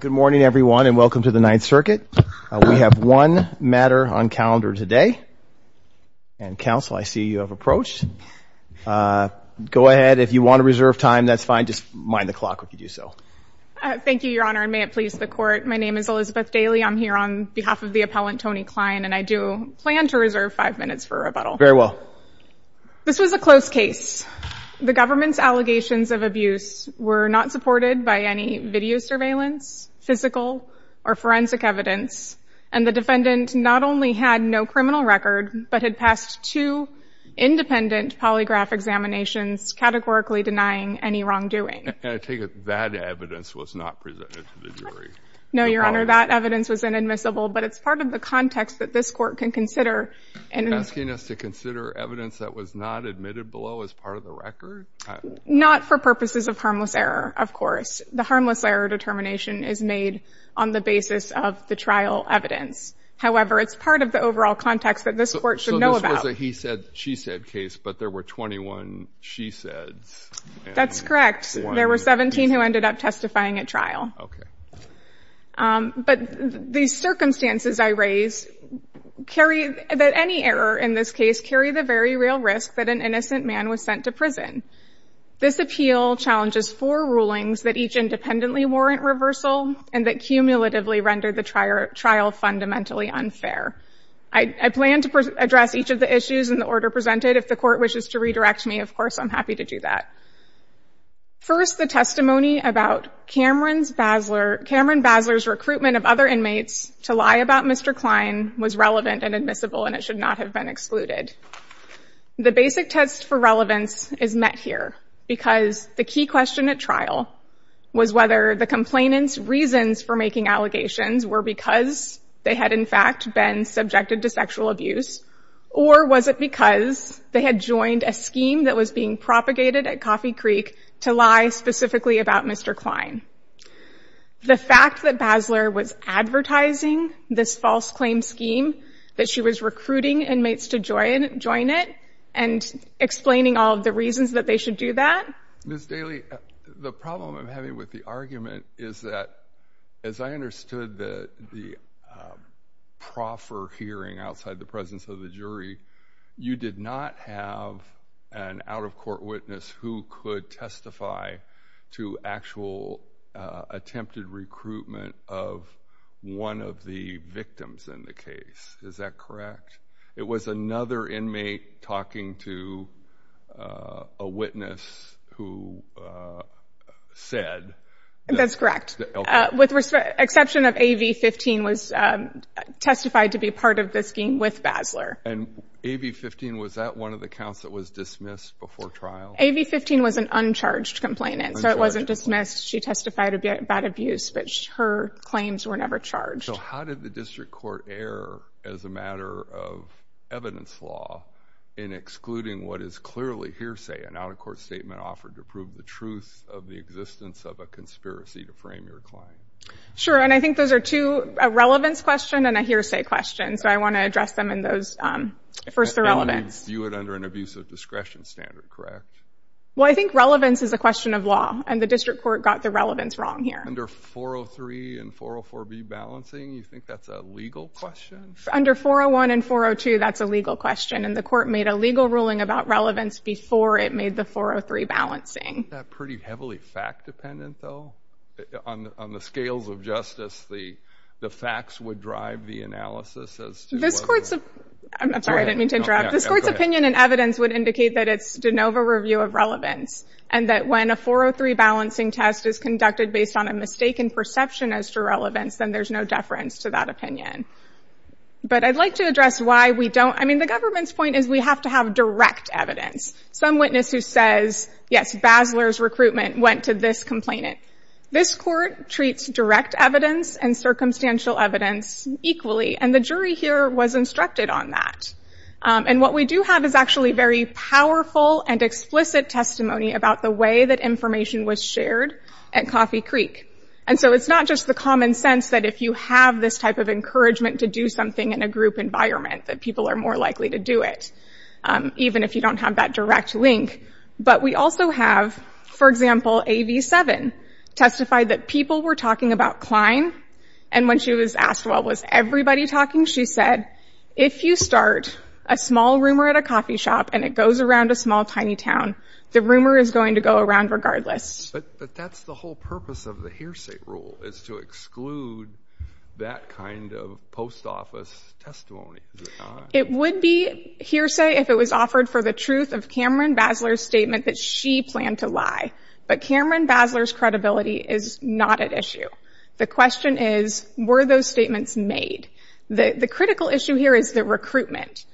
Good morning everyone and welcome to the Ninth Circuit. We have one matter on calendar today and counsel I see you have approached. Go ahead if you want to reserve time that's fine just mind the clock if you do so. Thank you your honor and may it please the court. My name is Elizabeth Daly. I'm here on behalf of the appellant Tony Klein and I do plan to reserve five minutes for rebuttal. Very well. This was a close case. The government's allegations of abuse were not supported by any video surveillance, physical or forensic evidence and the defendant not only had no criminal record but had passed two independent polygraph examinations categorically denying any wrongdoing. And I take it that evidence was not presented to the jury? No your honor that evidence was inadmissible but it's part of the context that this court can consider. And asking us to consider evidence that was not admitted below as part of the record? Not for purposes of harmless error of course. The harmless error determination is made on the basis of the trial evidence. However it's part of the overall context that this court should know about. So this was a he said she said case but there were 21 she saids? That's correct. There were 17 who ended up testifying at trial. Okay. But these circumstances I raise carry that any error in this case carry the very real risk that an innocent man was sent to prison. This appeal challenges four rulings that each independently warrant reversal and that cumulatively render the trial trial fundamentally unfair. I plan to address each of the issues in the order presented if the court wishes to redirect me of course I'm happy to do that. First the testimony about Cameron's Basler Cameron Basler's recruitment of other inmates to lie about Mr. Klein was relevant and admissible and it should not have been excluded. The basic test for relevance is met here because the key question at trial was whether the complainant's reasons for making allegations were because they had in fact been subjected to sexual abuse or was it because they had joined a scheme that was being propagated at Coffee Creek to lie specifically about Mr. Klein. The fact that Basler was advertising this false claim scheme that she was recruiting inmates to join join it and explaining all of the reasons that they should do that. Ms. Daly the problem I'm having with the argument is that as I understood the the proffer hearing outside the presence of the jury you did not have an out-of-court witness who could testify to actual attempted recruitment of one of the victims in the case is that correct? It was another inmate talking to a witness who said that's correct with respect exception of AV 15 was testified to be part of the scheme with Basler. And AV 15 was that one of the counts that was dismissed before trial? AV 15 was an uncharged complainant so it wasn't dismissed she testified about abuse but her claims were never charged. So how did the district court err as a matter of evidence law in excluding what is clearly hearsay an out-of-court statement offered to prove the truth of the existence of a conspiracy to frame your claim? Sure and I think those are two a relevance question and a hearsay question so I want to address them in those first the relevance. You would under an abusive discretion standard correct? Well I think relevance is a question of law and the district court got the relevance wrong here. Under 403 and 404B balancing you think that's a legal question? Under 401 and 402 that's a legal question and the court made a legal ruling about relevance before it made the 403 balancing. That pretty heavily fact dependent though on on the scales of justice the the facts would drive the analysis as to this court's I'm sorry I didn't mean to interrupt this court's opinion and evidence would indicate that it's de novo review of relevance and that when a 403 balancing test is conducted based on a mistaken perception as to relevance then there's no deference to that opinion. But I'd like to address why we don't I mean the government's point is we have to have direct evidence. Some witness who says yes Basler's recruitment went to this complainant this court treats direct evidence and circumstantial evidence equally and the jury here was instructed on that and what we do have is actually very powerful and explicit testimony about the way that information was shared at Coffee Creek and so it's not just the common sense that if you have this type of encouragement to do something in a group environment that people are more likely to even if you don't have that direct link but we also have for example AV7 testified that people were talking about Klein and when she was asked well was everybody talking she said if you start a small rumor at a coffee shop and it goes around a small tiny town the rumor is going to go around regardless. But that's the whole purpose of the hearsay rule is to exclude that kind of post office testimony. It would be hearsay if it was offered for the truth of Cameron Basler's statement that she planned to lie but Cameron Basler's credibility is not at issue. The question is were those statements made? The critical issue here is the recruitment.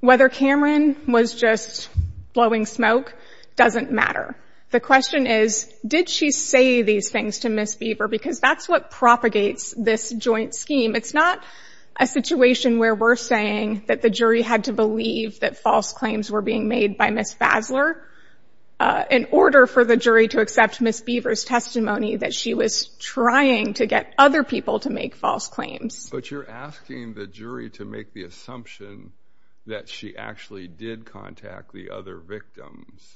Whether Cameron was just blowing smoke doesn't matter. The question is did she say these things to Ms. Beaver because that's what propagates this joint scheme. It's not a situation where we're saying that the jury had to believe that false claims were being made by Ms. Basler in order for the jury to accept Ms. Beaver's testimony that she was trying to get other people to make false claims. But you're asking the jury to make the assumption that she actually did contact the other victims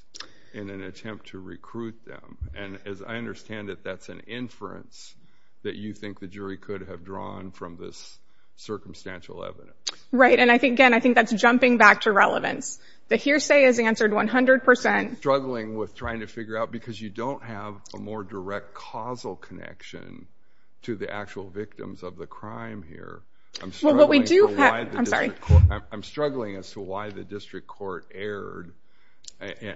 in an attempt to recruit them and as I understand it that's an inference that you think the jury could have drawn from this circumstantial evidence. Right and I think again I think that's jumping back to relevance. The hearsay is answered 100 percent. Struggling with trying to figure out because you don't have a more direct causal connection to the actual victims of the crime here. I'm struggling as to why the district court erred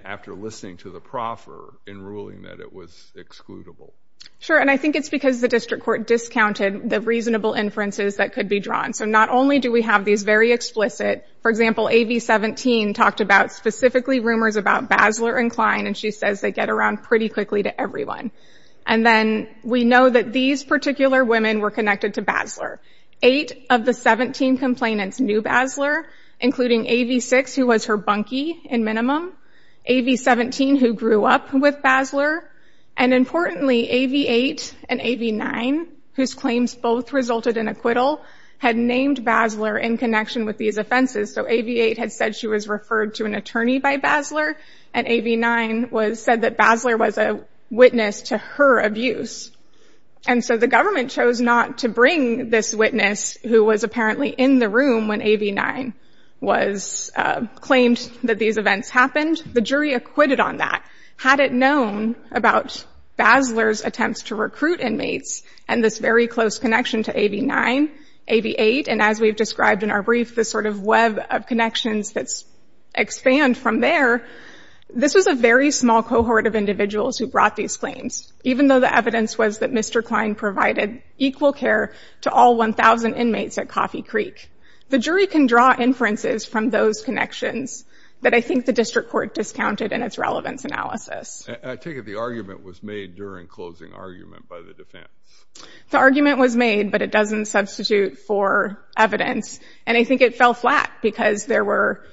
after listening to the proffer in ruling that it was excludable. Sure and I think it's because the district court discounted the reasonable inferences that could be drawn. So not only do we have these very explicit for example AV-17 talked about specifically rumors about Basler and Klein and she says they get around pretty quickly to everyone. And then we know that these particular women were connected to Basler. Eight of the 17 complainants knew Basler including AV-6 who was her bunkie in minimum. AV-17 who grew up with Basler and importantly AV-8 and AV-9 whose claims both resulted in acquittal had named Basler in connection with these offenses. So AV-8 had said she was referred to an attorney by Basler and AV-9 was said that Basler was a witness to her abuse. And so the government chose not to bring this witness who was apparently in the room when AV-9 was claimed that these events happened. The jury acquitted on that. Had it known about Basler's attempts to recruit inmates and this very close connection to AV-9, AV-8 and as we've described in our brief this sort of web of connections that's expand from there. This was a very small cohort of individuals who brought these even though the evidence was that Mr. Klein provided equal care to all 1,000 inmates at Coffee Creek. The jury can draw inferences from those connections that I think the district court discounted in its relevance analysis. I take it the argument was made during closing argument by the defense. The argument was made but it doesn't substitute for evidence and I think it fell flat because there were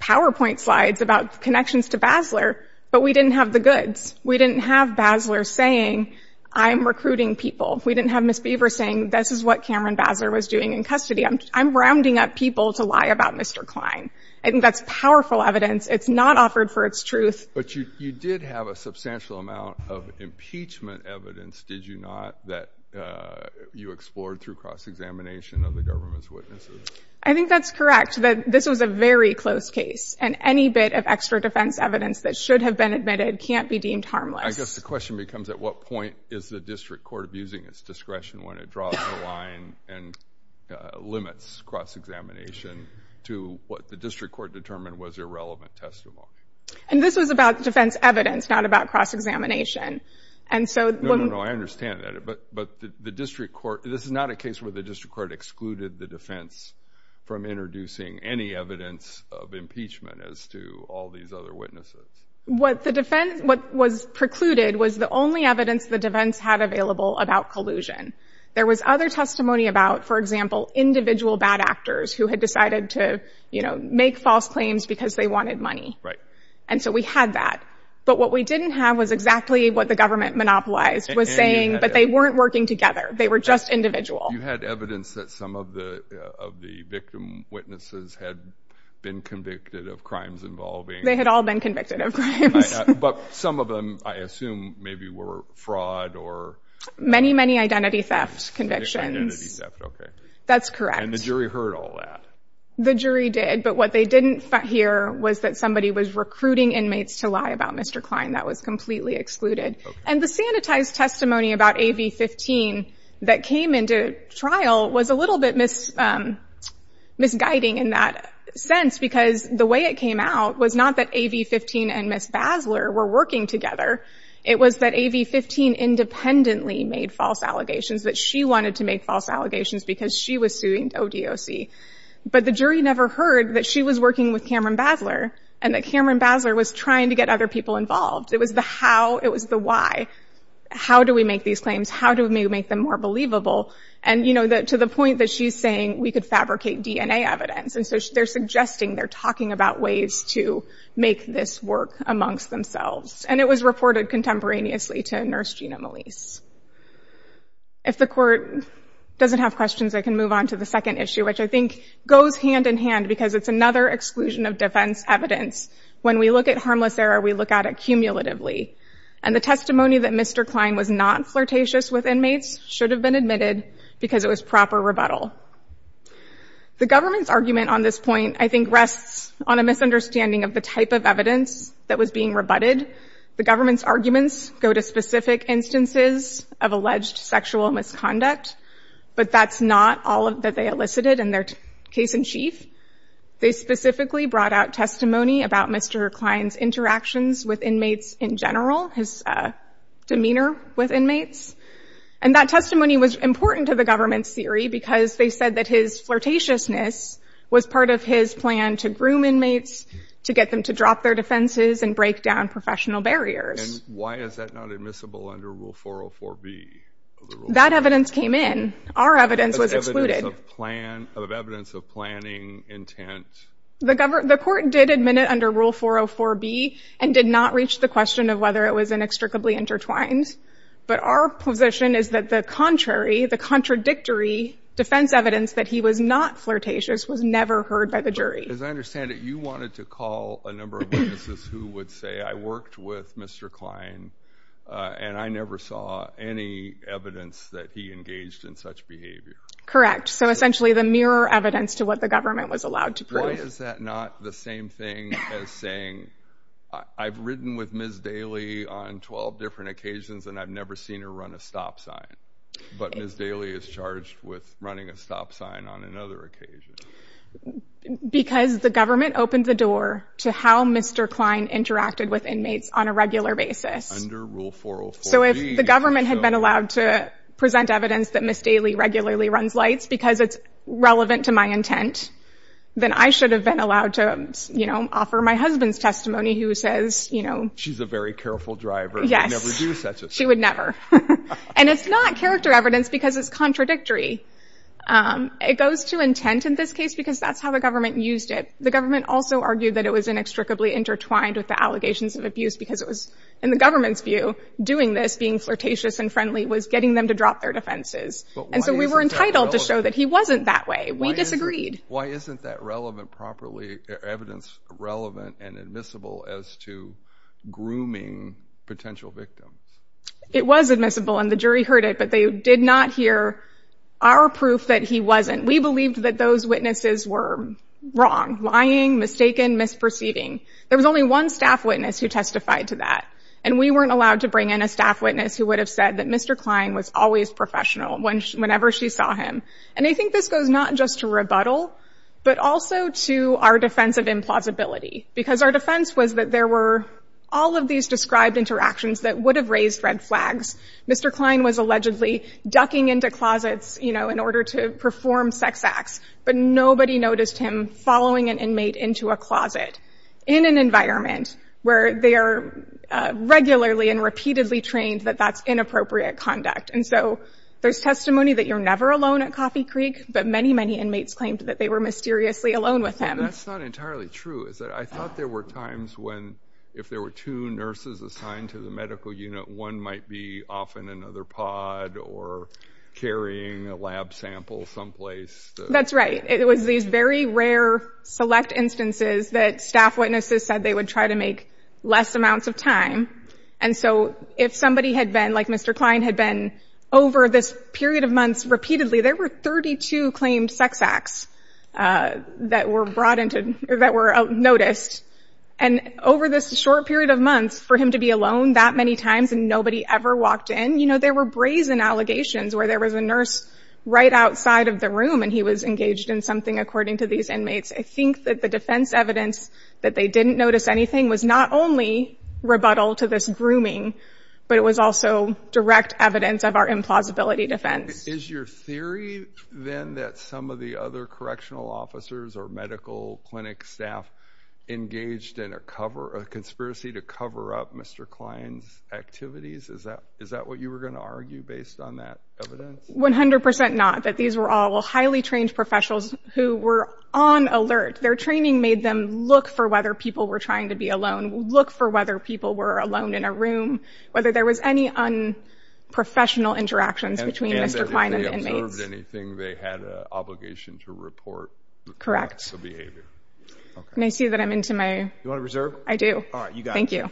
powerpoint slides about connections to Basler but we didn't have the We didn't have Basler saying I'm recruiting people. We didn't have Ms. Beaver saying this is what Cameron Basler was doing in custody. I'm rounding up people to lie about Mr. Klein. I think that's powerful evidence. It's not offered for its truth. But you did have a substantial amount of impeachment evidence, did you not, that you explored through cross-examination of the government's witnesses? I think that's correct that this was a very close case and any bit of extra defense evidence that should have been admitted can't be deemed harmless. I guess the question becomes at what point is the district court abusing its discretion when it draws the line and limits cross-examination to what the district court determined was irrelevant testimony? And this was about defense evidence, not about cross-examination and so... No, no, no. I understand that but the district court, this is not a case where the district court excluded the defense from introducing any evidence of impeachment as to all these other witnesses. What the defense, what was precluded was the only evidence the defense had available about collusion. There was other testimony about, for example, individual bad actors who had decided to, you know, make false claims because they wanted money. Right. And so we had that. But what we didn't have was exactly what the government monopolized was saying, but they weren't working together. They were just individual. You had evidence that some of the victim witnesses had been convicted of crimes involving... They had all been convicted of crimes. But some of them, I assume, maybe were fraud or... Many, many identity theft convictions. Identity theft, okay. That's correct. And the jury heard all that. The jury did, but what they didn't hear was that somebody was recruiting inmates to lie about Mr. Klein. That was completely excluded. And the sanitized testimony about AV-15 that came into trial was a little bit misguiding in that sense because the way it came out was not that AV-15 and Ms. Basler were working together. It was that AV-15 independently made false allegations, that she wanted to make false allegations because she was suing ODOC. But the jury never heard that she was working with Cameron Basler and that Cameron Basler was trying to get other people involved. It was the how. It was the why. How do we make these claims? How do we make them more believable? And, you know, to the point that she's saying we could fabricate DNA evidence. They're suggesting, they're talking about ways to make this work amongst themselves. And it was reported contemporaneously to Nurse Gina Melisse. If the court doesn't have questions, I can move on to the second issue, which I think goes hand in hand because it's another exclusion of defense evidence. When we look at harmless error, we look at it cumulatively. And the testimony that Mr. Klein was not flirtatious with inmates should have been admitted because it was proper rebuttal. The government's argument on this point, I think, rests on a misunderstanding of the type of evidence that was being rebutted. The government's arguments go to specific instances of alleged sexual misconduct. But that's not all that they elicited in their case in chief. They specifically brought out testimony about Mr. Klein's interactions with inmates in general, his demeanor with inmates. And that testimony was important to the government's theory because they said that his flirtatiousness was part of his plan to groom inmates, to get them to drop their defenses and break down professional barriers. And why is that not admissible under Rule 404B? That evidence came in. Our evidence was excluded. As evidence of plan, of evidence of planning, intent. The court did admit it under Rule 404B and did not reach the question of whether it was inextricably intertwined. But our position is that the contrary, the contradictory defense evidence that he was not flirtatious was never heard by the jury. As I understand it, you wanted to call a number of witnesses who would say, I worked with Mr. Klein and I never saw any evidence that he engaged in such behavior. Correct. So essentially the mirror evidence to what the government was allowed to prove. Why is that not the same thing as saying, I've ridden with Ms. Daly on 12 different occasions and I've never seen her run a stop sign. But Ms. Daly is charged with running a stop sign on another occasion. Because the government opened the door to how Mr. Klein interacted with inmates on a regular basis. Under Rule 404B. So if the government had been allowed to present evidence that Ms. Daly regularly runs lights because it's relevant to my intent, then I should have been allowed to, you know, offer my husband's testimony who says, you know. She's a very careful driver. Yes, she would never. And it's not character evidence because it's contradictory. It goes to intent in this case because that's how the government used it. The government also argued that it was inextricably intertwined with the allegations of abuse because it was in the government's view doing this, being flirtatious and friendly, was getting them to drop their defenses. And so we were entitled to show that he wasn't that way. We disagreed. Why isn't that relevant properly, evidence relevant and admissible as to grooming potential victims? It was admissible and the jury heard it, but they did not hear our proof that he wasn't. We believed that those witnesses were wrong, lying, mistaken, misperceiving. There was only one staff witness who testified to that. And we weren't allowed to bring in a staff witness who would have said that Mr. Klein was always professional whenever she saw him. And I think this goes not just to rebuttal, but also to our defense of implausibility. Because our defense was that there were all of these described interactions that would have raised red flags. Mr. Klein was allegedly ducking into closets, you know, in order to perform sex acts, but nobody noticed him following an inmate into a closet in an environment where they are regularly and repeatedly trained that that's inappropriate conduct. And so there's testimony that you're never alone at Coffee Creek, but many, many inmates claimed that they were mysteriously alone with him. That's not entirely true, is it? I thought there were times when if there were two nurses assigned to the medical unit, one might be off in another pod or carrying a lab sample someplace. That's right. It was these very rare select instances that staff witnesses said they would try to make less amounts of time. And so if somebody had been like Mr. Klein had been over this period of months repeatedly, there were 32 claimed sex acts that were brought into that were noticed. And over this short period of months for him to be alone that many times and nobody ever walked in, you know, there were brazen allegations where there was a nurse right outside of the room and he was engaged in something, according to these inmates. I think that the defense evidence that they didn't notice anything was not only rebuttal to this grooming, but it was also direct evidence of our implausibility defense. Is your theory then that some of the other correctional officers or medical clinic staff engaged in a cover a conspiracy to cover up Mr. Klein's activities? Is that is that what you were going to argue based on that evidence? 100 percent not that these were all highly trained professionals who were on alert. Their training made them look for whether people were trying to be alone, look for whether people were alone in a room, whether there was any unprofessional interactions between Mr. Klein and inmates. If they observed anything, they had an obligation to report correct behavior. And I see that I'm into my. You want to reserve? I do. All right. You got. Thank you.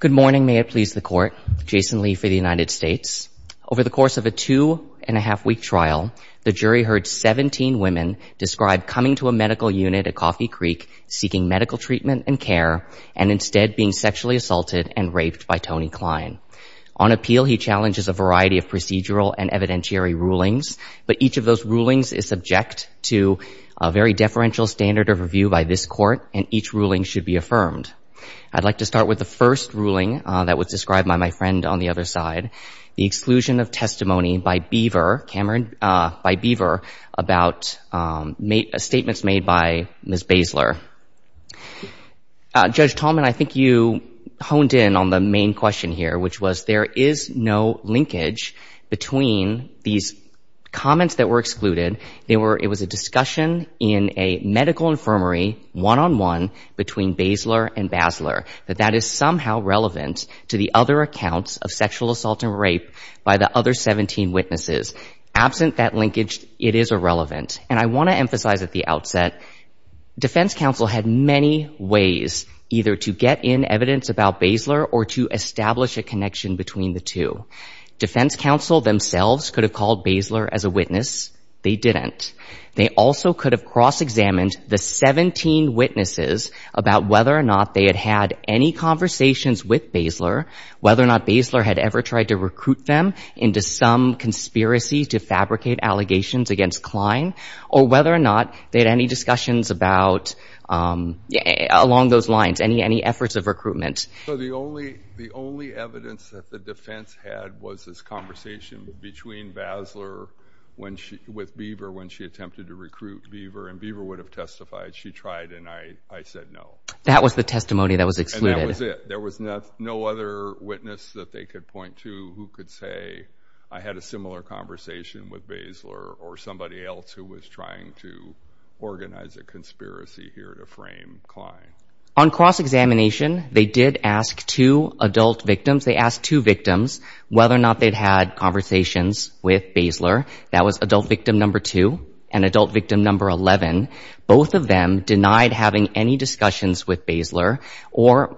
Good morning. May it please the court. Jason Lee for the United States. Over the course of a two and a half week trial, the jury heard 17 women described coming to a medical unit at Coffee Creek seeking medical treatment and care and instead being sexually assaulted and raped by Tony Klein. On appeal, he challenges a variety of procedural and evidentiary rulings, but each of those rulings is subject to a very deferential standard of review by this court, and each ruling should be affirmed. I'd like to start with the first ruling that was described by my friend on the other side, the exclusion of testimony by Beaver Cameron by Beaver about statements made by Ms. Basler. Uh, Judge Tallman, I think you honed in on the main question here, which was there is no linkage between these comments that were excluded. They were, it was a discussion in a medical infirmary one-on-one between Basler and Basler, that that is somehow relevant to the other accounts of sexual assault and rape by the other 17 witnesses. Absent that linkage, it is irrelevant. And I want to emphasize at the outset, defense counsel had many ways either to get in evidence about Basler or to establish a connection between the two. Defense counsel themselves could have called Basler as a witness. They didn't. They also could have cross-examined the 17 witnesses about whether or not they had had any conversations with Basler, whether or not Basler had ever tried to recruit them into some conspiracy to fabricate allegations against Klein, or whether or not they had any discussions about, um, along those lines, any, any efforts of recruitment. So the only, the only evidence that the defense had was this conversation between Basler when she, with Beaver, when she attempted to recruit Beaver and Beaver would have testified. She tried and I, I said no. That was the testimony that was excluded. And that was it. There was no other witness that they could point to who could say, I had a similar conversation with Basler or somebody else who was trying to organize a conspiracy here to frame Klein. On cross-examination, they did ask two adult victims. They asked two victims whether or not they'd had conversations with Basler. That was adult victim number two and adult victim number 11. Both of them denied having any discussions with Basler or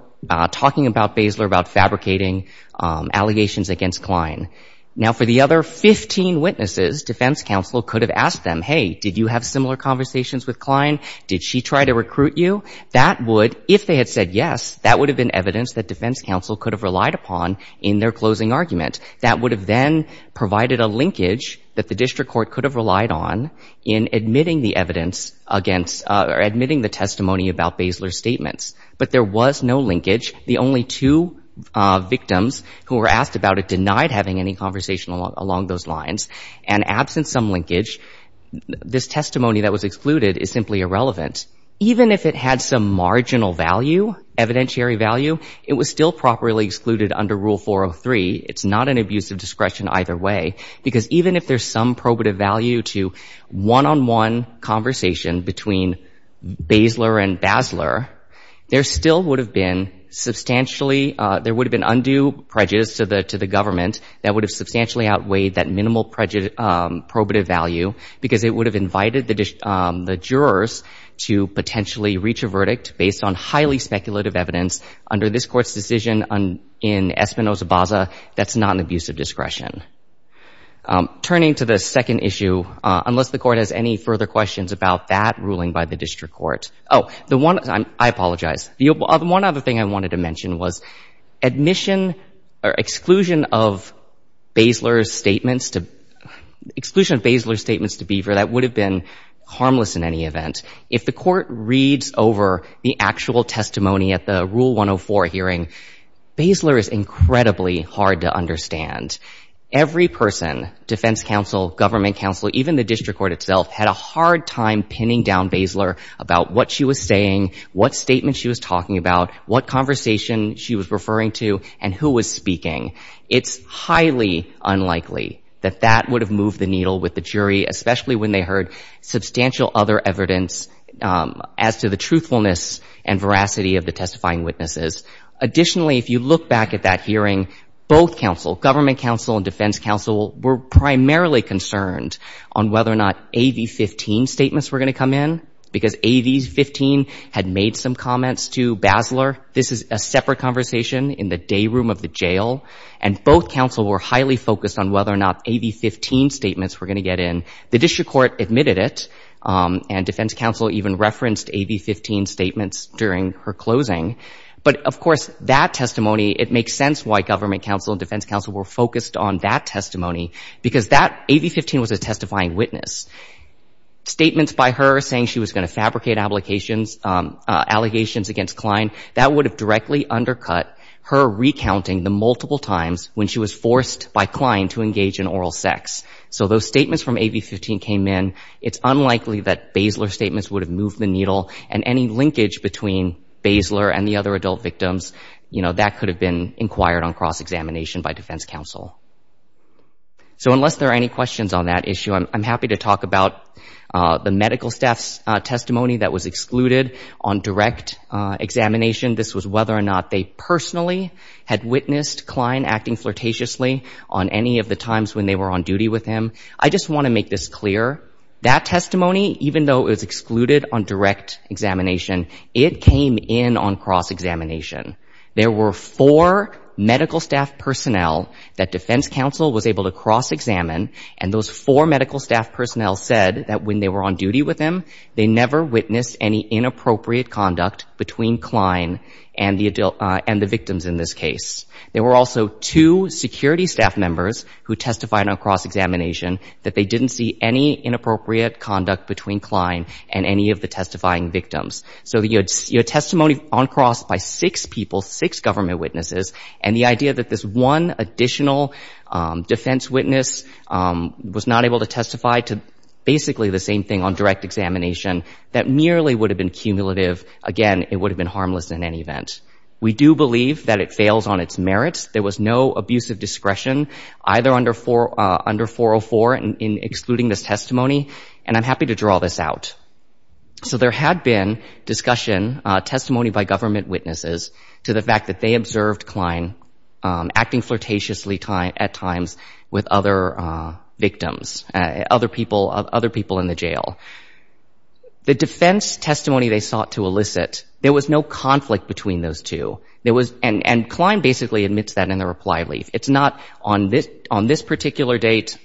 talking about Basler about fabricating, um, allegations against Klein. Now, for the other 15 witnesses, defense counsel could have asked them, hey, did you have similar conversations with Klein? Did she try to recruit you? That would, if they had said yes, that would have been evidence that defense counsel could have relied upon in their closing argument. That would have then provided a linkage that the district court could have relied on in admitting the evidence against, or admitting the testimony about Basler's statements. But there was no linkage. The only two victims who were asked about it denied having any conversation along those lines. And absent some linkage, this testimony that was excluded is simply irrelevant. Even if it had some marginal value, evidentiary value, it was still properly excluded under Rule 403. It's not an abuse of discretion either way. Because even if there's some probative value to one-on-one conversation between Basler and Basler, there still would have been substantially, there would have been undue prejudice to the government that would have substantially outweighed that minimal probative value because it would have invited the jurors to potentially reach a verdict based on highly speculative evidence under this Court's decision in Espinosa-Baza that's not an abuse of discretion. Turning to the second issue, unless the Court has any further questions about that ruling by the district court. Oh, the one, I apologize. The one other thing I wanted to mention was admission or exclusion of Basler's statements to, exclusion of Basler's statements to Beaver that would have been harmless in any event. If the Court reads over the actual testimony at the Rule 104 hearing, Basler is incredibly hard to understand. Every person, defense counsel, government counsel, even the district court itself had a hard time pinning down Basler about what she was saying, what statement she was talking about, what conversation she was referring to, and who was speaking. It's highly unlikely that that would have moved the needle with the jury, especially when they heard substantial other evidence as to the truthfulness and veracity of the testifying witnesses. Additionally, if you look back at that hearing, both counsel, government counsel and defense counsel were primarily concerned on whether or not AV-15 statements were going to come in because AV-15 had made some comments to Basler. This is a separate conversation in the day room of the jail, and both counsel were highly focused on whether or not AV-15 statements were going to get in. The district court admitted it, and defense counsel even referenced AV-15 statements during her closing. But, of course, that testimony, it makes sense why government counsel and defense counsel were focused on that testimony, because AV-15 was a testifying witness. Statements by her saying she was going to fabricate allegations against Klein, that would have directly undercut her recounting the multiple times when she was forced by Klein to engage in oral sex. So those statements from AV-15 came in. It's unlikely that Basler's statements would have moved the needle, and any linkage between Basler and the other adult victims, that could have been inquired on cross-examination by defense counsel. So unless there are any questions on that issue, I'm happy to talk about the medical staff's testimony that was excluded on direct examination. This was whether or not they personally had witnessed Klein acting flirtatiously on any of the times when they were on duty with him. I just want to make this clear. That testimony, even though it was excluded on direct examination, it came in on cross-examination. There were four medical staff personnel that defense counsel was able to cross-examine, and those four medical staff personnel said that when they were on duty with him, they never witnessed any inappropriate conduct between Klein and the victims in this case. There were also two security staff members who testified on cross-examination that they didn't see any inappropriate conduct between Klein and any of the testifying victims. So you had testimony on cross by six people, six government witnesses, and the idea that this one additional defense witness was not able to testify to basically the same thing on direct examination, that merely would have been cumulative. Again, it would have been harmless in any event. We do believe that it fails on its merits. There was no abusive discretion, either under 404 in excluding this testimony, and I'm happy to draw this out. So there had been discussion, testimony by government witnesses, to the fact that they observed Klein acting flirtatiously at times with other victims, other people in the jail. The defense testimony they sought to elicit, there was no conflict between those two, and Klein basically admits that in the reply leaf. It's not on this particular date,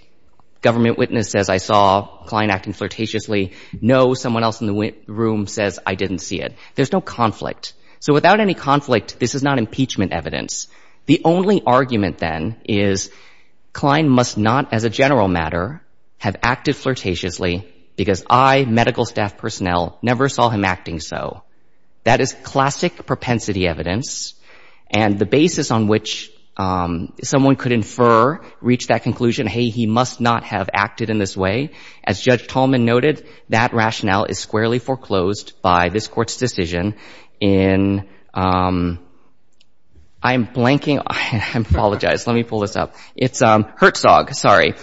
government witness says, I saw Klein acting flirtatiously. No, someone else in the room says, I didn't see it. There's no conflict. So without any conflict, this is not impeachment evidence. The only argument then is Klein must not, as a general matter, have acted flirtatiously because I, medical staff personnel, never saw him acting so. That is classic propensity evidence, and the basis on which someone could infer, reach that conclusion, hey, he must not have acted in this way, as Judge Tolman noted, that rationale is squarely foreclosed by this Court's decision in, I'm blanking, I apologize. Let me pull this up. It's Herzog, sorry.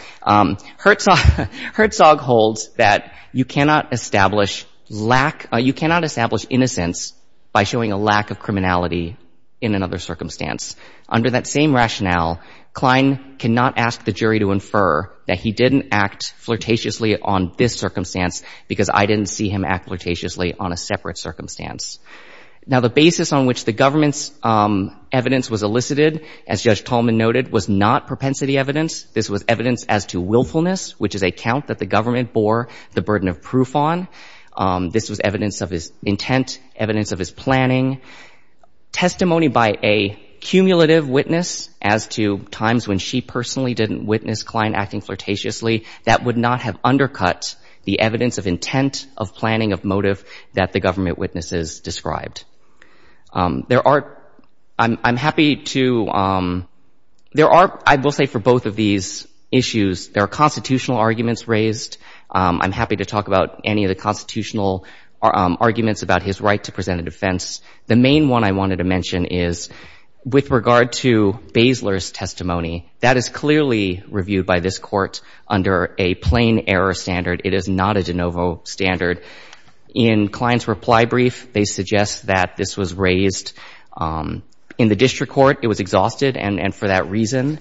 Herzog holds that you cannot establish lack, you cannot establish innocence by showing a lack of criminality in another circumstance. Under that same rationale, Klein cannot ask the jury to infer that he didn't act flirtatiously on this circumstance because I didn't see him act flirtatiously on a separate circumstance. Now, the basis on which the government's evidence was elicited, as Judge Tolman noted, was not propensity evidence. This was evidence as to willfulness, which is a count that the government bore the burden of proof on. This was evidence of his intent, evidence of his planning, testimony by a cumulative witness as to times when she personally didn't witness Klein acting flirtatiously that would not have undercut the evidence of intent, of planning, of motive that the government witnesses described. There are, I'm happy to, there are, I will say for both of these issues, there are constitutional arguments raised. I'm happy to talk about any of the constitutional arguments about his right to present a defense. The main one I wanted to mention is with regard to Basler's testimony, that is clearly reviewed by this Court under a plain error standard. It is not a de novo standard. In Klein's reply brief, they suggest that this was raised in the district court. It was exhausted, and for that reason,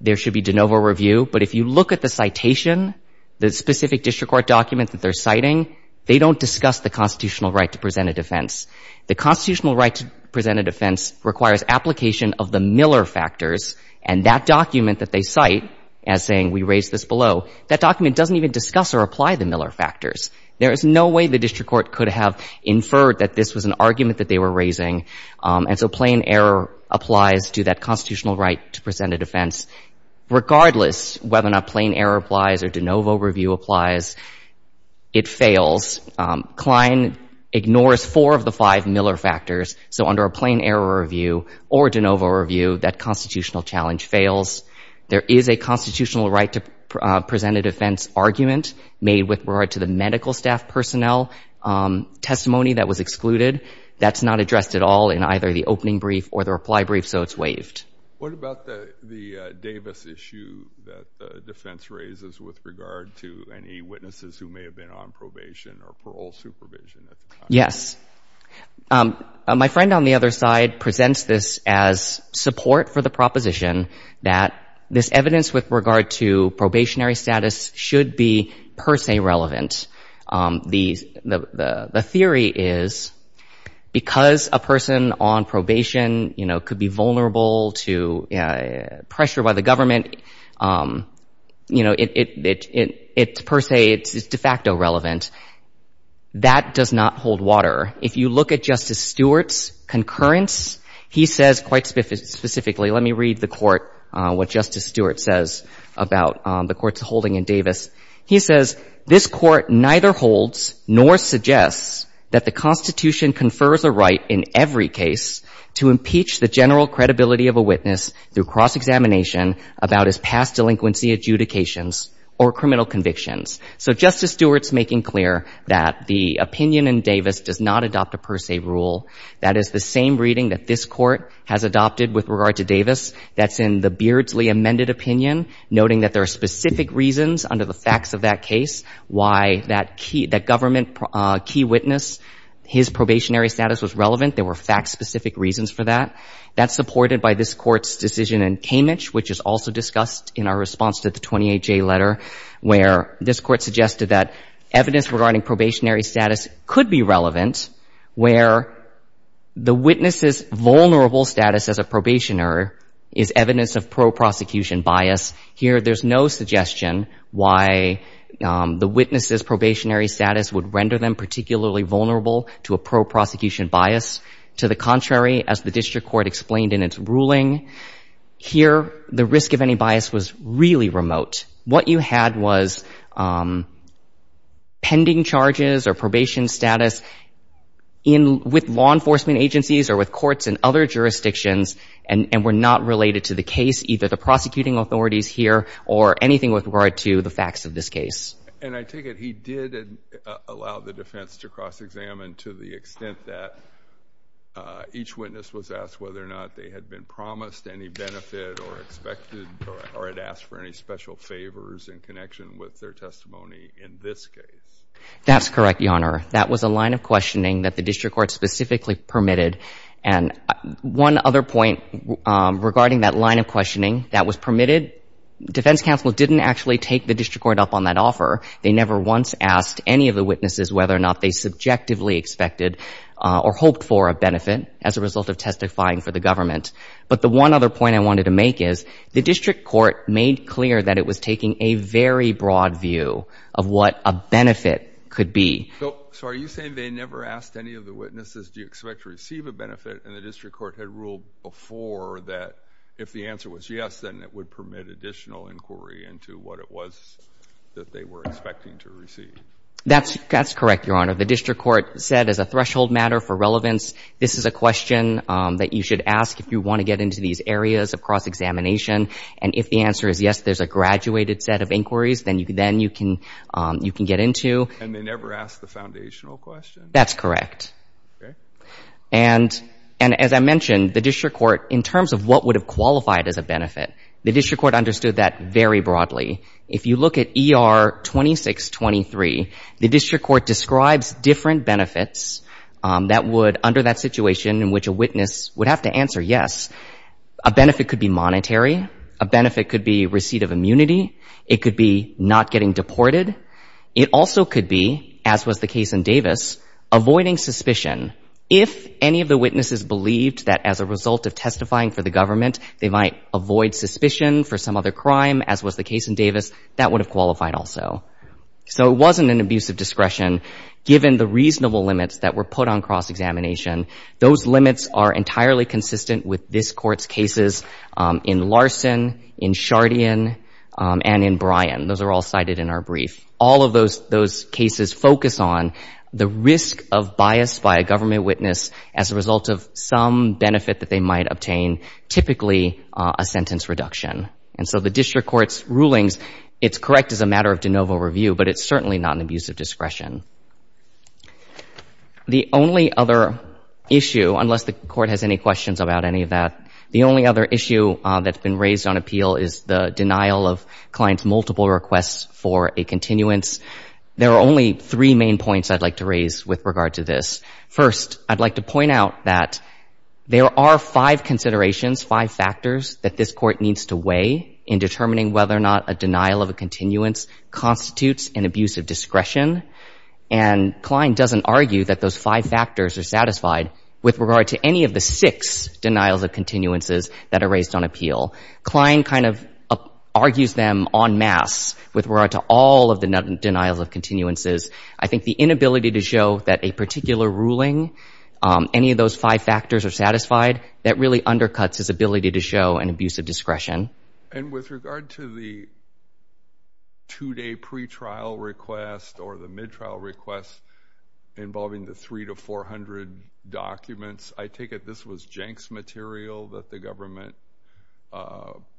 there should be de novo review. But if you look at the citation, the specific district court document that they're citing, they don't discuss the constitutional right to present a defense. The constitutional right to present a defense requires application of the Miller factors, and that document that they cite as saying we raise this below, that document doesn't even discuss or apply the Miller factors. There is no way the district court could have inferred that this was an argument that they were raising, and so plain error applies to that constitutional right to present a defense. Regardless whether or not plain error applies or de novo review applies, it fails. Klein ignores four of the five Miller factors, so under a plain error review or de novo review, that constitutional challenge fails. There is a constitutional right to present a defense argument made with regard to the medical staff personnel testimony that was excluded. That's not addressed at all in either the opening brief or the reply brief, so it's What about the Davis issue that the defense raises with regard to any witnesses who may have been on probation or parole supervision at the time? Yes. My friend on the other side presents this as support for the proposition that this evidence with regard to probationary status should be per se relevant. The theory is because a person on probation, you know, could be vulnerable to pressure by the government, you know, it's per se, it's de facto relevant. That does not hold water. If you look at Justice Stewart's concurrence, he says quite specifically, let me read the what Justice Stewart says about the courts holding in Davis. He says, this Court neither holds nor suggests that the Constitution confers a right in every case to impeach the general credibility of a witness through cross-examination about his past delinquency adjudications or criminal convictions. So Justice Stewart's making clear that the opinion in Davis does not adopt a per se rule. That is the same reading that this Court has adopted with regard to Davis that's in the Beardsley amended opinion, noting that there are specific reasons under the facts of that case why that key, that government key witness, his probationary status was relevant. There were fact-specific reasons for that. That's supported by this Court's decision in Kamich, which is also discussed in our response to the 28J letter, where this Court suggested that evidence regarding probationary status could be relevant where the witness's vulnerable status as a pro-prosecution bias. Here, there's no suggestion why the witness's probationary status would render them particularly vulnerable to a pro-prosecution bias. To the contrary, as the District Court explained in its ruling, here, the risk of any bias was really remote. What you had was pending charges or probation status with law enforcement agencies or with courts in other jurisdictions and were not related to the case, either the prosecuting authorities here or anything with regard to the facts of this case. And I take it he did allow the defense to cross-examine to the extent that each witness was asked whether or not they had been promised any benefit or expected or had asked for any special favors in connection with their testimony in this case. That's correct, Your Honor. That was a line of questioning that the District Court specifically permitted. And one other point regarding that line of questioning that was permitted, Defense Counsel didn't actually take the District Court up on that offer. They never once asked any of the witnesses whether or not they subjectively expected or hoped for a benefit as a result of testifying for the government. But the one other point I wanted to make is the District Court made clear that it was taking a very broad view of what a benefit could be. So are you saying they never asked any of the witnesses, do you expect to receive a benefit? And the District Court had ruled before that if the answer was yes, then it would permit additional inquiry into what it was that they were expecting to receive. That's correct, Your Honor. The District Court said as a threshold matter for relevance, this is a question that you should ask if you want to get into these areas of cross-examination. And if the answer is yes, there's a graduated set of inquiries, then you can get into. And they never asked the foundational question? That's correct. And as I mentioned, the District Court, in terms of what would have qualified as a benefit, the District Court understood that very broadly. If you look at ER 2623, the District Court describes different benefits that would, under that situation in which a witness would have to answer yes, a benefit could be monetary, a benefit could be receipt of immunity, it could be not getting deported. It also could be, as was the case in Davis, avoiding suspicion. If any of the witnesses believed that as a result of testifying for the government, they might avoid suspicion for some other crime, as was the case in Davis, that would have qualified also. So it wasn't an abuse of discretion given the reasonable limits that were put on cross-examination. Those limits are entirely consistent with this Court's cases in Larson, in Shardian, and in Bryan. Those are all cited in our brief. All of those cases focus on the risk of bias by a government witness as a result of some benefit that they might obtain, typically a sentence reduction. And so the District Court's rulings, it's correct as a matter of de novo review, but it's certainly not an abuse of discretion. The only other issue, unless the Court has any questions about any of that, the only other issue that's been raised on appeal is the denial of Klein's multiple requests for a continuance. There are only three main points I'd like to raise with regard to this. First, I'd like to point out that there are five considerations, five factors, that this Court needs to weigh in determining whether or not a denial of a continuance constitutes an abuse of discretion. And Klein doesn't argue that those five factors are satisfied with regard to any of the six denials of continuances that are raised on appeal. Klein kind of argues them en masse with regard to all of the denials of continuances. I think the inability to show that a particular ruling, any of those five factors are satisfied, that really undercuts his ability to show an abuse of discretion. And with regard to the two-day pretrial request or the midtrial request involving the 300 to 400 documents, I take it this was Jenks material that the government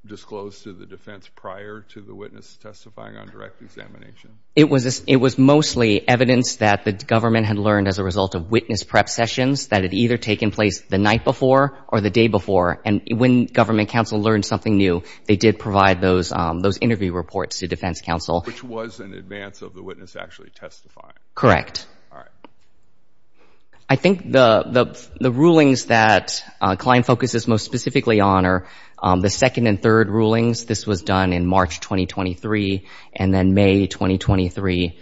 disclosed to the defense prior to the witness testifying on direct examination? It was mostly evidence that the government had learned as a result of witness prep sessions that had either taken place the night before or the day before. And when government counsel learned something new, they did provide those interview reports to defense counsel. Which was in advance of the witness actually testifying. Correct. I think the rulings that Klein focuses most specifically on are the second and third rulings. This was done in March 2023 and then May 2023.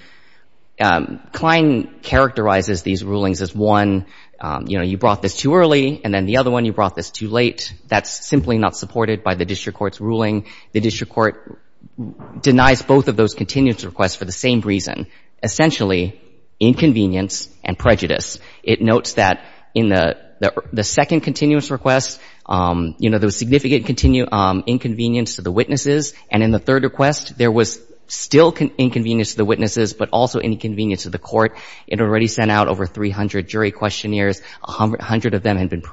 Klein characterizes these rulings as one, you know, you brought this too early. And then the other one, you brought this too late. That's simply not supported by the district court's ruling. The district court denies both of those continuance requests for the same reason. Essentially, inconvenience and prejudice. It notes that in the second continuance request, you know, there was significant inconvenience to the witnesses. And in the third request, there was still inconvenience to the witnesses, but also inconvenience to the court. It already sent out over 300 jury questionnaires. A hundred of them had been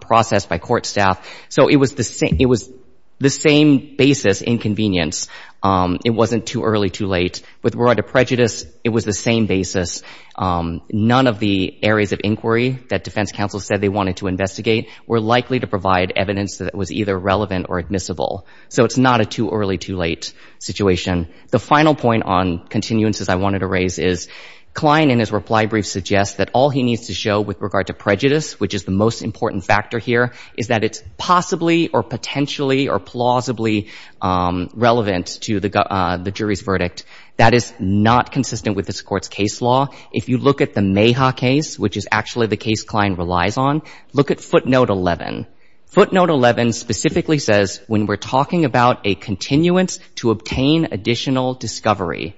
processed by court staff. So it was the same basis, inconvenience. It wasn't too early, too late. With regard to prejudice, it was the same basis. None of the areas of inquiry that defense counsel said they wanted to investigate were likely to provide evidence that was either relevant or admissible. So it's not a too early, too late situation. The final point on continuances I wanted to raise is Klein in his reply brief suggests that all he needs to show with regard to prejudice, which is the most important factor here, is that it's possibly or potentially or plausibly relevant to the jury's verdict. That is not consistent with this court's case law. If you look at the Mayha case, which is actually the case Klein relies on, look at footnote 11. Footnote 11 specifically says, when we're talking about a continuance to obtain additional discovery,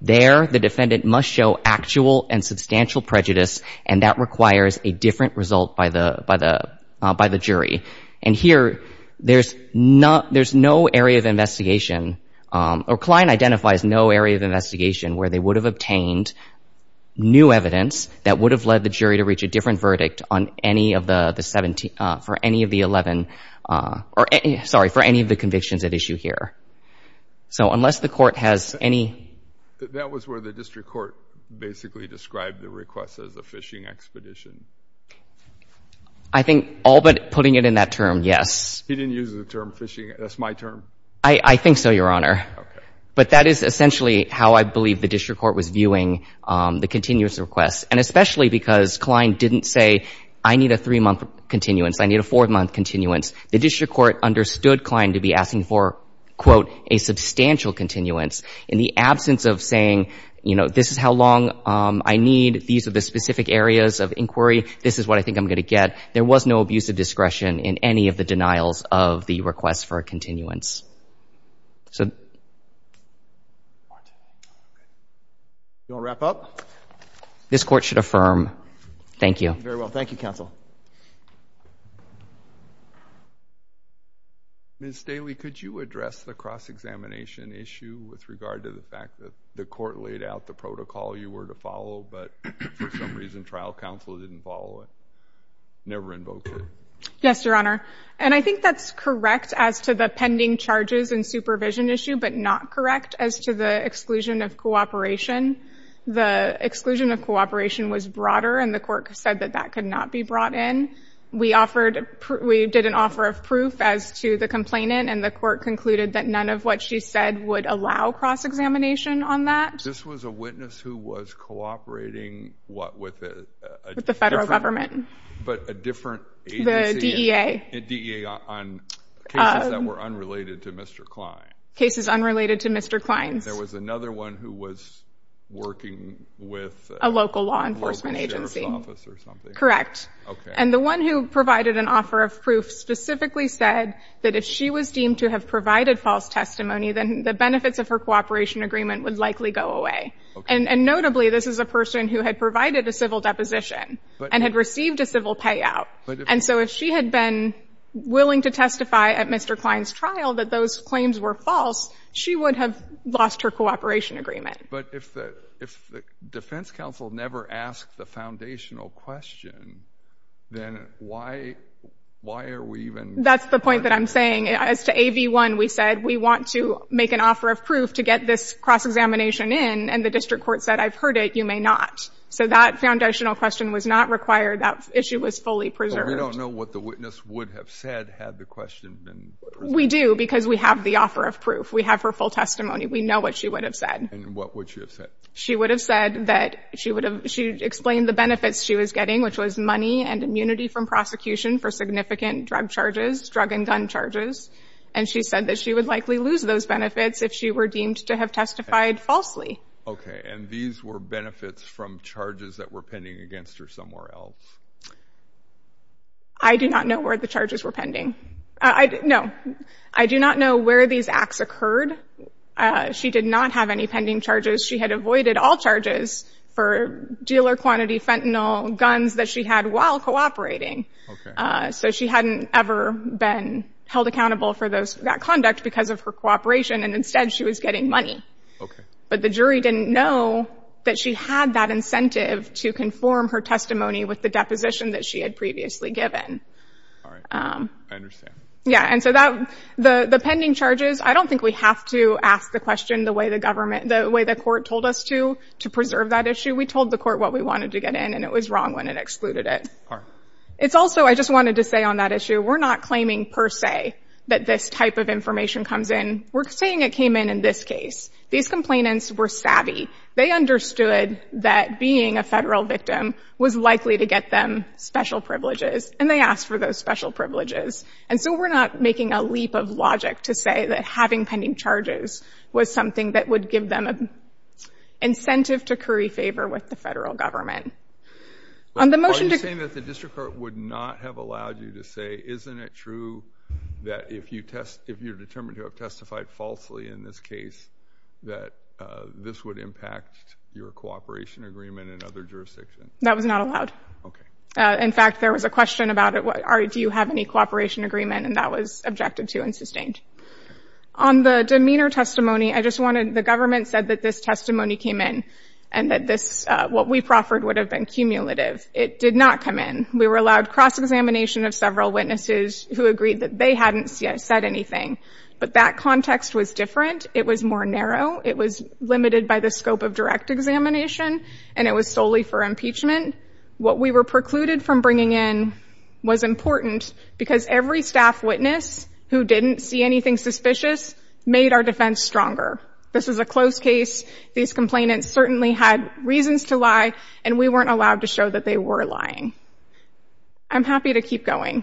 there the defendant must show actual and substantial prejudice, and that requires a different result by the jury. And here, there's no area of investigation, or Klein identifies no area of investigation where they would have obtained new evidence that would have led the jury to reach a different verdict on any of the 17, for any of the 11, or sorry, for any of the convictions at issue here. So unless the court has any... That was where the district court basically described the request as a fishing expedition. I think all but putting it in that term, yes. He didn't use the term fishing. That's my term. I think so, Your Honor. But that is essentially how I believe the district court was viewing the continuance request. And especially because Klein didn't say, I need a three-month continuance. I need a four-month continuance. The district court understood Klein to be asking for, quote, a substantial continuance. In the absence of saying, you know, this is how long I need. These are the specific areas of inquiry. This is what I think I'm going to get. There was no abuse of discretion in any of the denials of the request for a continuance. So... You want to wrap up? This court should affirm. Thank you. Very well. Thank you, counsel. Ms. Staley, could you address the cross-examination issue with regard to the fact that the court laid out the protocol you were to follow, but for some reason, trial counsel didn't follow it? Never invoked it. Yes, Your Honor. And I think that's correct as to the pending charges and supervision issue, but not correct as to the exclusion of cooperation. The exclusion of cooperation was broader, and the court said that that could not be brought in. We did an offer of proof as to the complainant, and the court concluded that none of what she said would allow cross-examination on that. This was a witness who was cooperating, what, with a different... With the federal government. But a different agency. The DEA. The DEA on cases that were unrelated to Mr. Klein. Cases unrelated to Mr. Klein. There was another one who was working with... A local law enforcement agency. A local sheriff's office or something. Correct. And the one who provided an offer of proof specifically said that if she was deemed to have provided false testimony, then the benefits of her cooperation agreement would likely go away. And notably, this is a person who had provided a civil deposition and had received a civil payout. And so if she had been willing to testify at Mr. Klein's trial that those claims were false, she would have lost her cooperation agreement. But if the defense counsel never asked the foundational question, then why are we even... That's the point that I'm saying. As to AV1, we said, we want to make an offer of proof to get this cross-examination in, and the district court said, I've heard it, you may not. So that foundational question was not required. That issue was fully preserved. But we don't know what the witness would have said had the question been presented. We do, because we have the offer of proof. We have her full testimony. We know what she would have said. And what would she have said? She would have said that she would have... She explained the benefits she was getting, which was money and immunity from prosecution for significant drug charges, drug and gun charges. And she said that she would likely lose those benefits if she were deemed to have testified falsely. Okay, and these were benefits from charges that were pending against her somewhere else? I do not know where the charges were pending. No, I do not know where these acts occurred. She did not have any pending charges. She had avoided all charges for dealer-quantity fentanyl guns that she had while cooperating. So she hadn't ever been held accountable for that conduct because of her cooperation. And instead, she was getting money. But the jury didn't know that she had that incentive to conform her testimony with the deposition that she had previously given. All right, I understand. Yeah, and so the pending charges, I don't think we have to ask the question the way the court told us to preserve that issue. We told the court what we wanted to get in, and it was wrong when it excluded it. It's also, I just wanted to say on that issue, we're not claiming per se that this type of information comes in. We're saying it came in in this case. These complainants were savvy. They understood that being a federal victim was likely to get them special privileges, and they asked for those special privileges. And so we're not making a leap of logic to say that having pending charges was something that would give them an incentive to curry favor with the federal government. Are you saying that the district court would not have allowed you to say, isn't it true that if you're determined to have testified falsely in this case, that this would impact your cooperation agreement in other jurisdictions? That was not allowed. Okay. In fact, there was a question about it. Do you have any cooperation agreement? And that was objected to and sustained. On the demeanor testimony, I just wanted, the government said that this testimony came in and that this, what we proffered, would have been cumulative. It did not come in. We were allowed cross-examination of several witnesses who agreed that they hadn't said anything, but that context was different. It was more narrow. It was limited by the scope of direct examination, and it was solely for impeachment. What we were precluded from bringing in was important because every staff witness who didn't see anything suspicious made our defense stronger. This was a close case. These complainants certainly had reasons to lie, and we weren't allowed to show that they were lying. I'm happy to keep going,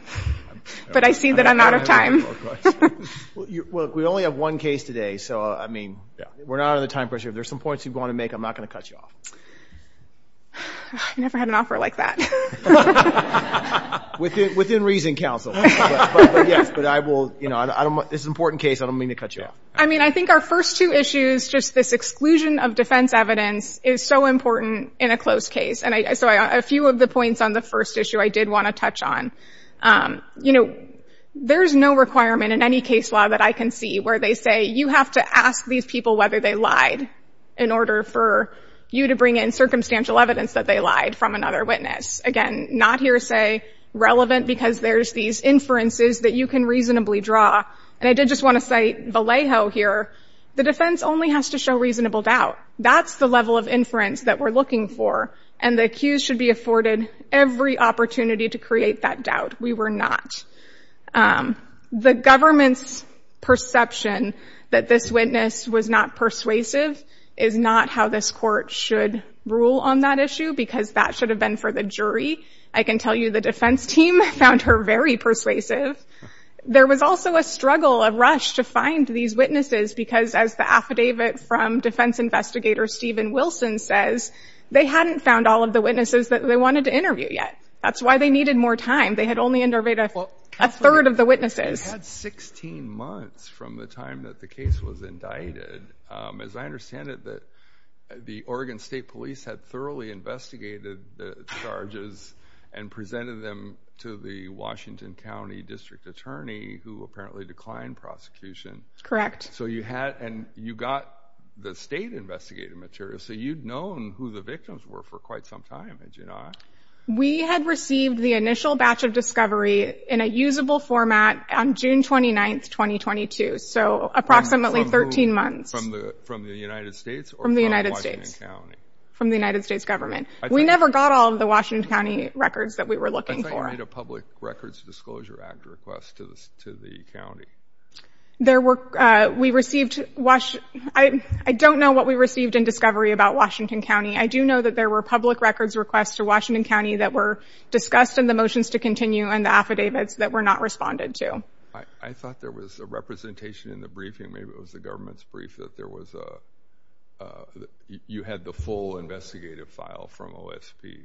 but I see that I'm out of time. Well, we only have one case today, so, I mean, we're not under the time pressure. If there's some points you want to make, I'm not going to cut you off. I never had an offer like that. Within reason, counsel. But yes, but I will, you know, I don't, this is an important case. I don't mean to cut you off. I mean, I think our first two issues, just this exclusion of defense evidence is so important in a closed case, and so a few of the points on the first issue I did want to touch on. You know, there's no requirement in any case law that I can see where they say you have to ask these people whether they lied in order for you to bring in circumstantial evidence that they lied from another witness. Again, not hearsay. Relevant because there's these inferences that you can reasonably draw, and I did just want to cite Vallejo here. The defense only has to show reasonable doubt. That's the level of inference that we're looking for, and the accused should be afforded every opportunity to create that doubt. We were not. The government's perception that this witness was not persuasive is not how this court should rule on that issue because that should have been for the jury. I can tell you the defense team found her very persuasive. There was also a struggle, a rush to find these witnesses because as the affidavit from defense investigator Stephen Wilson says, they hadn't found all of the witnesses that they wanted to interview yet. That's why they needed more time. They had only interviewed a third of the witnesses. You had 16 months from the time that the case was indicted. As I understand it, the Oregon State Police had thoroughly investigated the charges and presented them to the Washington County District Attorney who apparently declined prosecution. Correct. So you had, and you got the state investigative material, so you'd known who the victims were for quite some time, had you not? We had received the initial batch of discovery in a usable format on June 29th, 2022, so approximately 13 months. From the United States or from Washington County? From the United States government. We never got all of the Washington County records that we were looking for. I thought you made a Public Records Disclosure Act request to the county. There were, we received, I don't know what we received in discovery about Washington County. I do know that there were public records requests to Washington County that were discussed in the motions to continue and the affidavits that were not responded to. I thought there was a representation in the briefing, maybe it was the government's brief, that there was a, you had the full investigative file from OSP.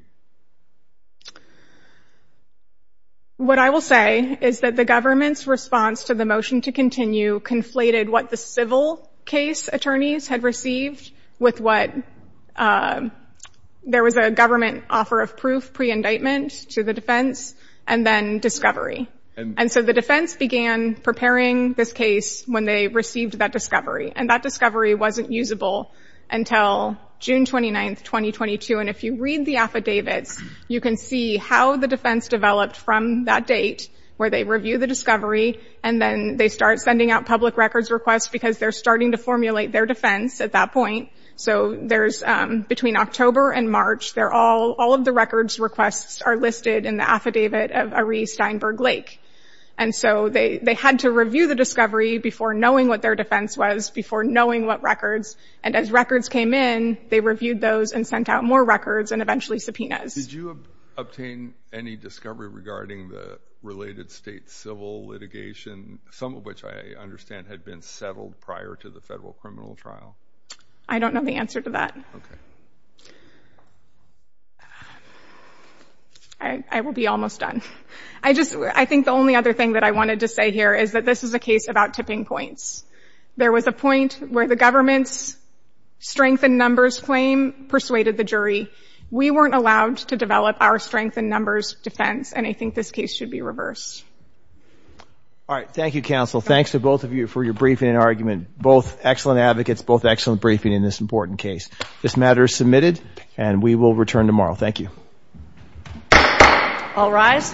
What I will say is that the government's response to the motion to continue conflated what the civil case attorneys had received with what there was a government offer of proof pre-indictment to the defense and then discovery. And so the defense began preparing this case when they received that discovery. And that discovery wasn't usable until June 29th, 2022. And if you read the affidavits, you can see how the defense developed from that date where they review the discovery and then they start sending out public records requests because they're starting to formulate their defense at that point. So there's, between October and March, they're all, all of the records requests are listed in the affidavit of Arie Steinberg Lake. And so they had to review the discovery before knowing what their defense was, before knowing what records. And as records came in, they reviewed those and sent out more records and eventually subpoenas. Did you obtain any discovery regarding the related state civil litigation? Some of which I understand had been settled prior to the federal criminal trial. I don't know the answer to that. I will be almost done. I just, I think the only other thing that I wanted to say here is that this is a case about tipping points. There was a point where the government's strength in numbers claim persuaded the jury. We weren't allowed to develop our strength in numbers defense. And I think this case should be reversed. All right. Thank you, counsel. Thanks to both of you for your briefing and argument. Both excellent advocates, both excellent briefing in this important case. This matter is submitted and we will return tomorrow. Thank you. All rise.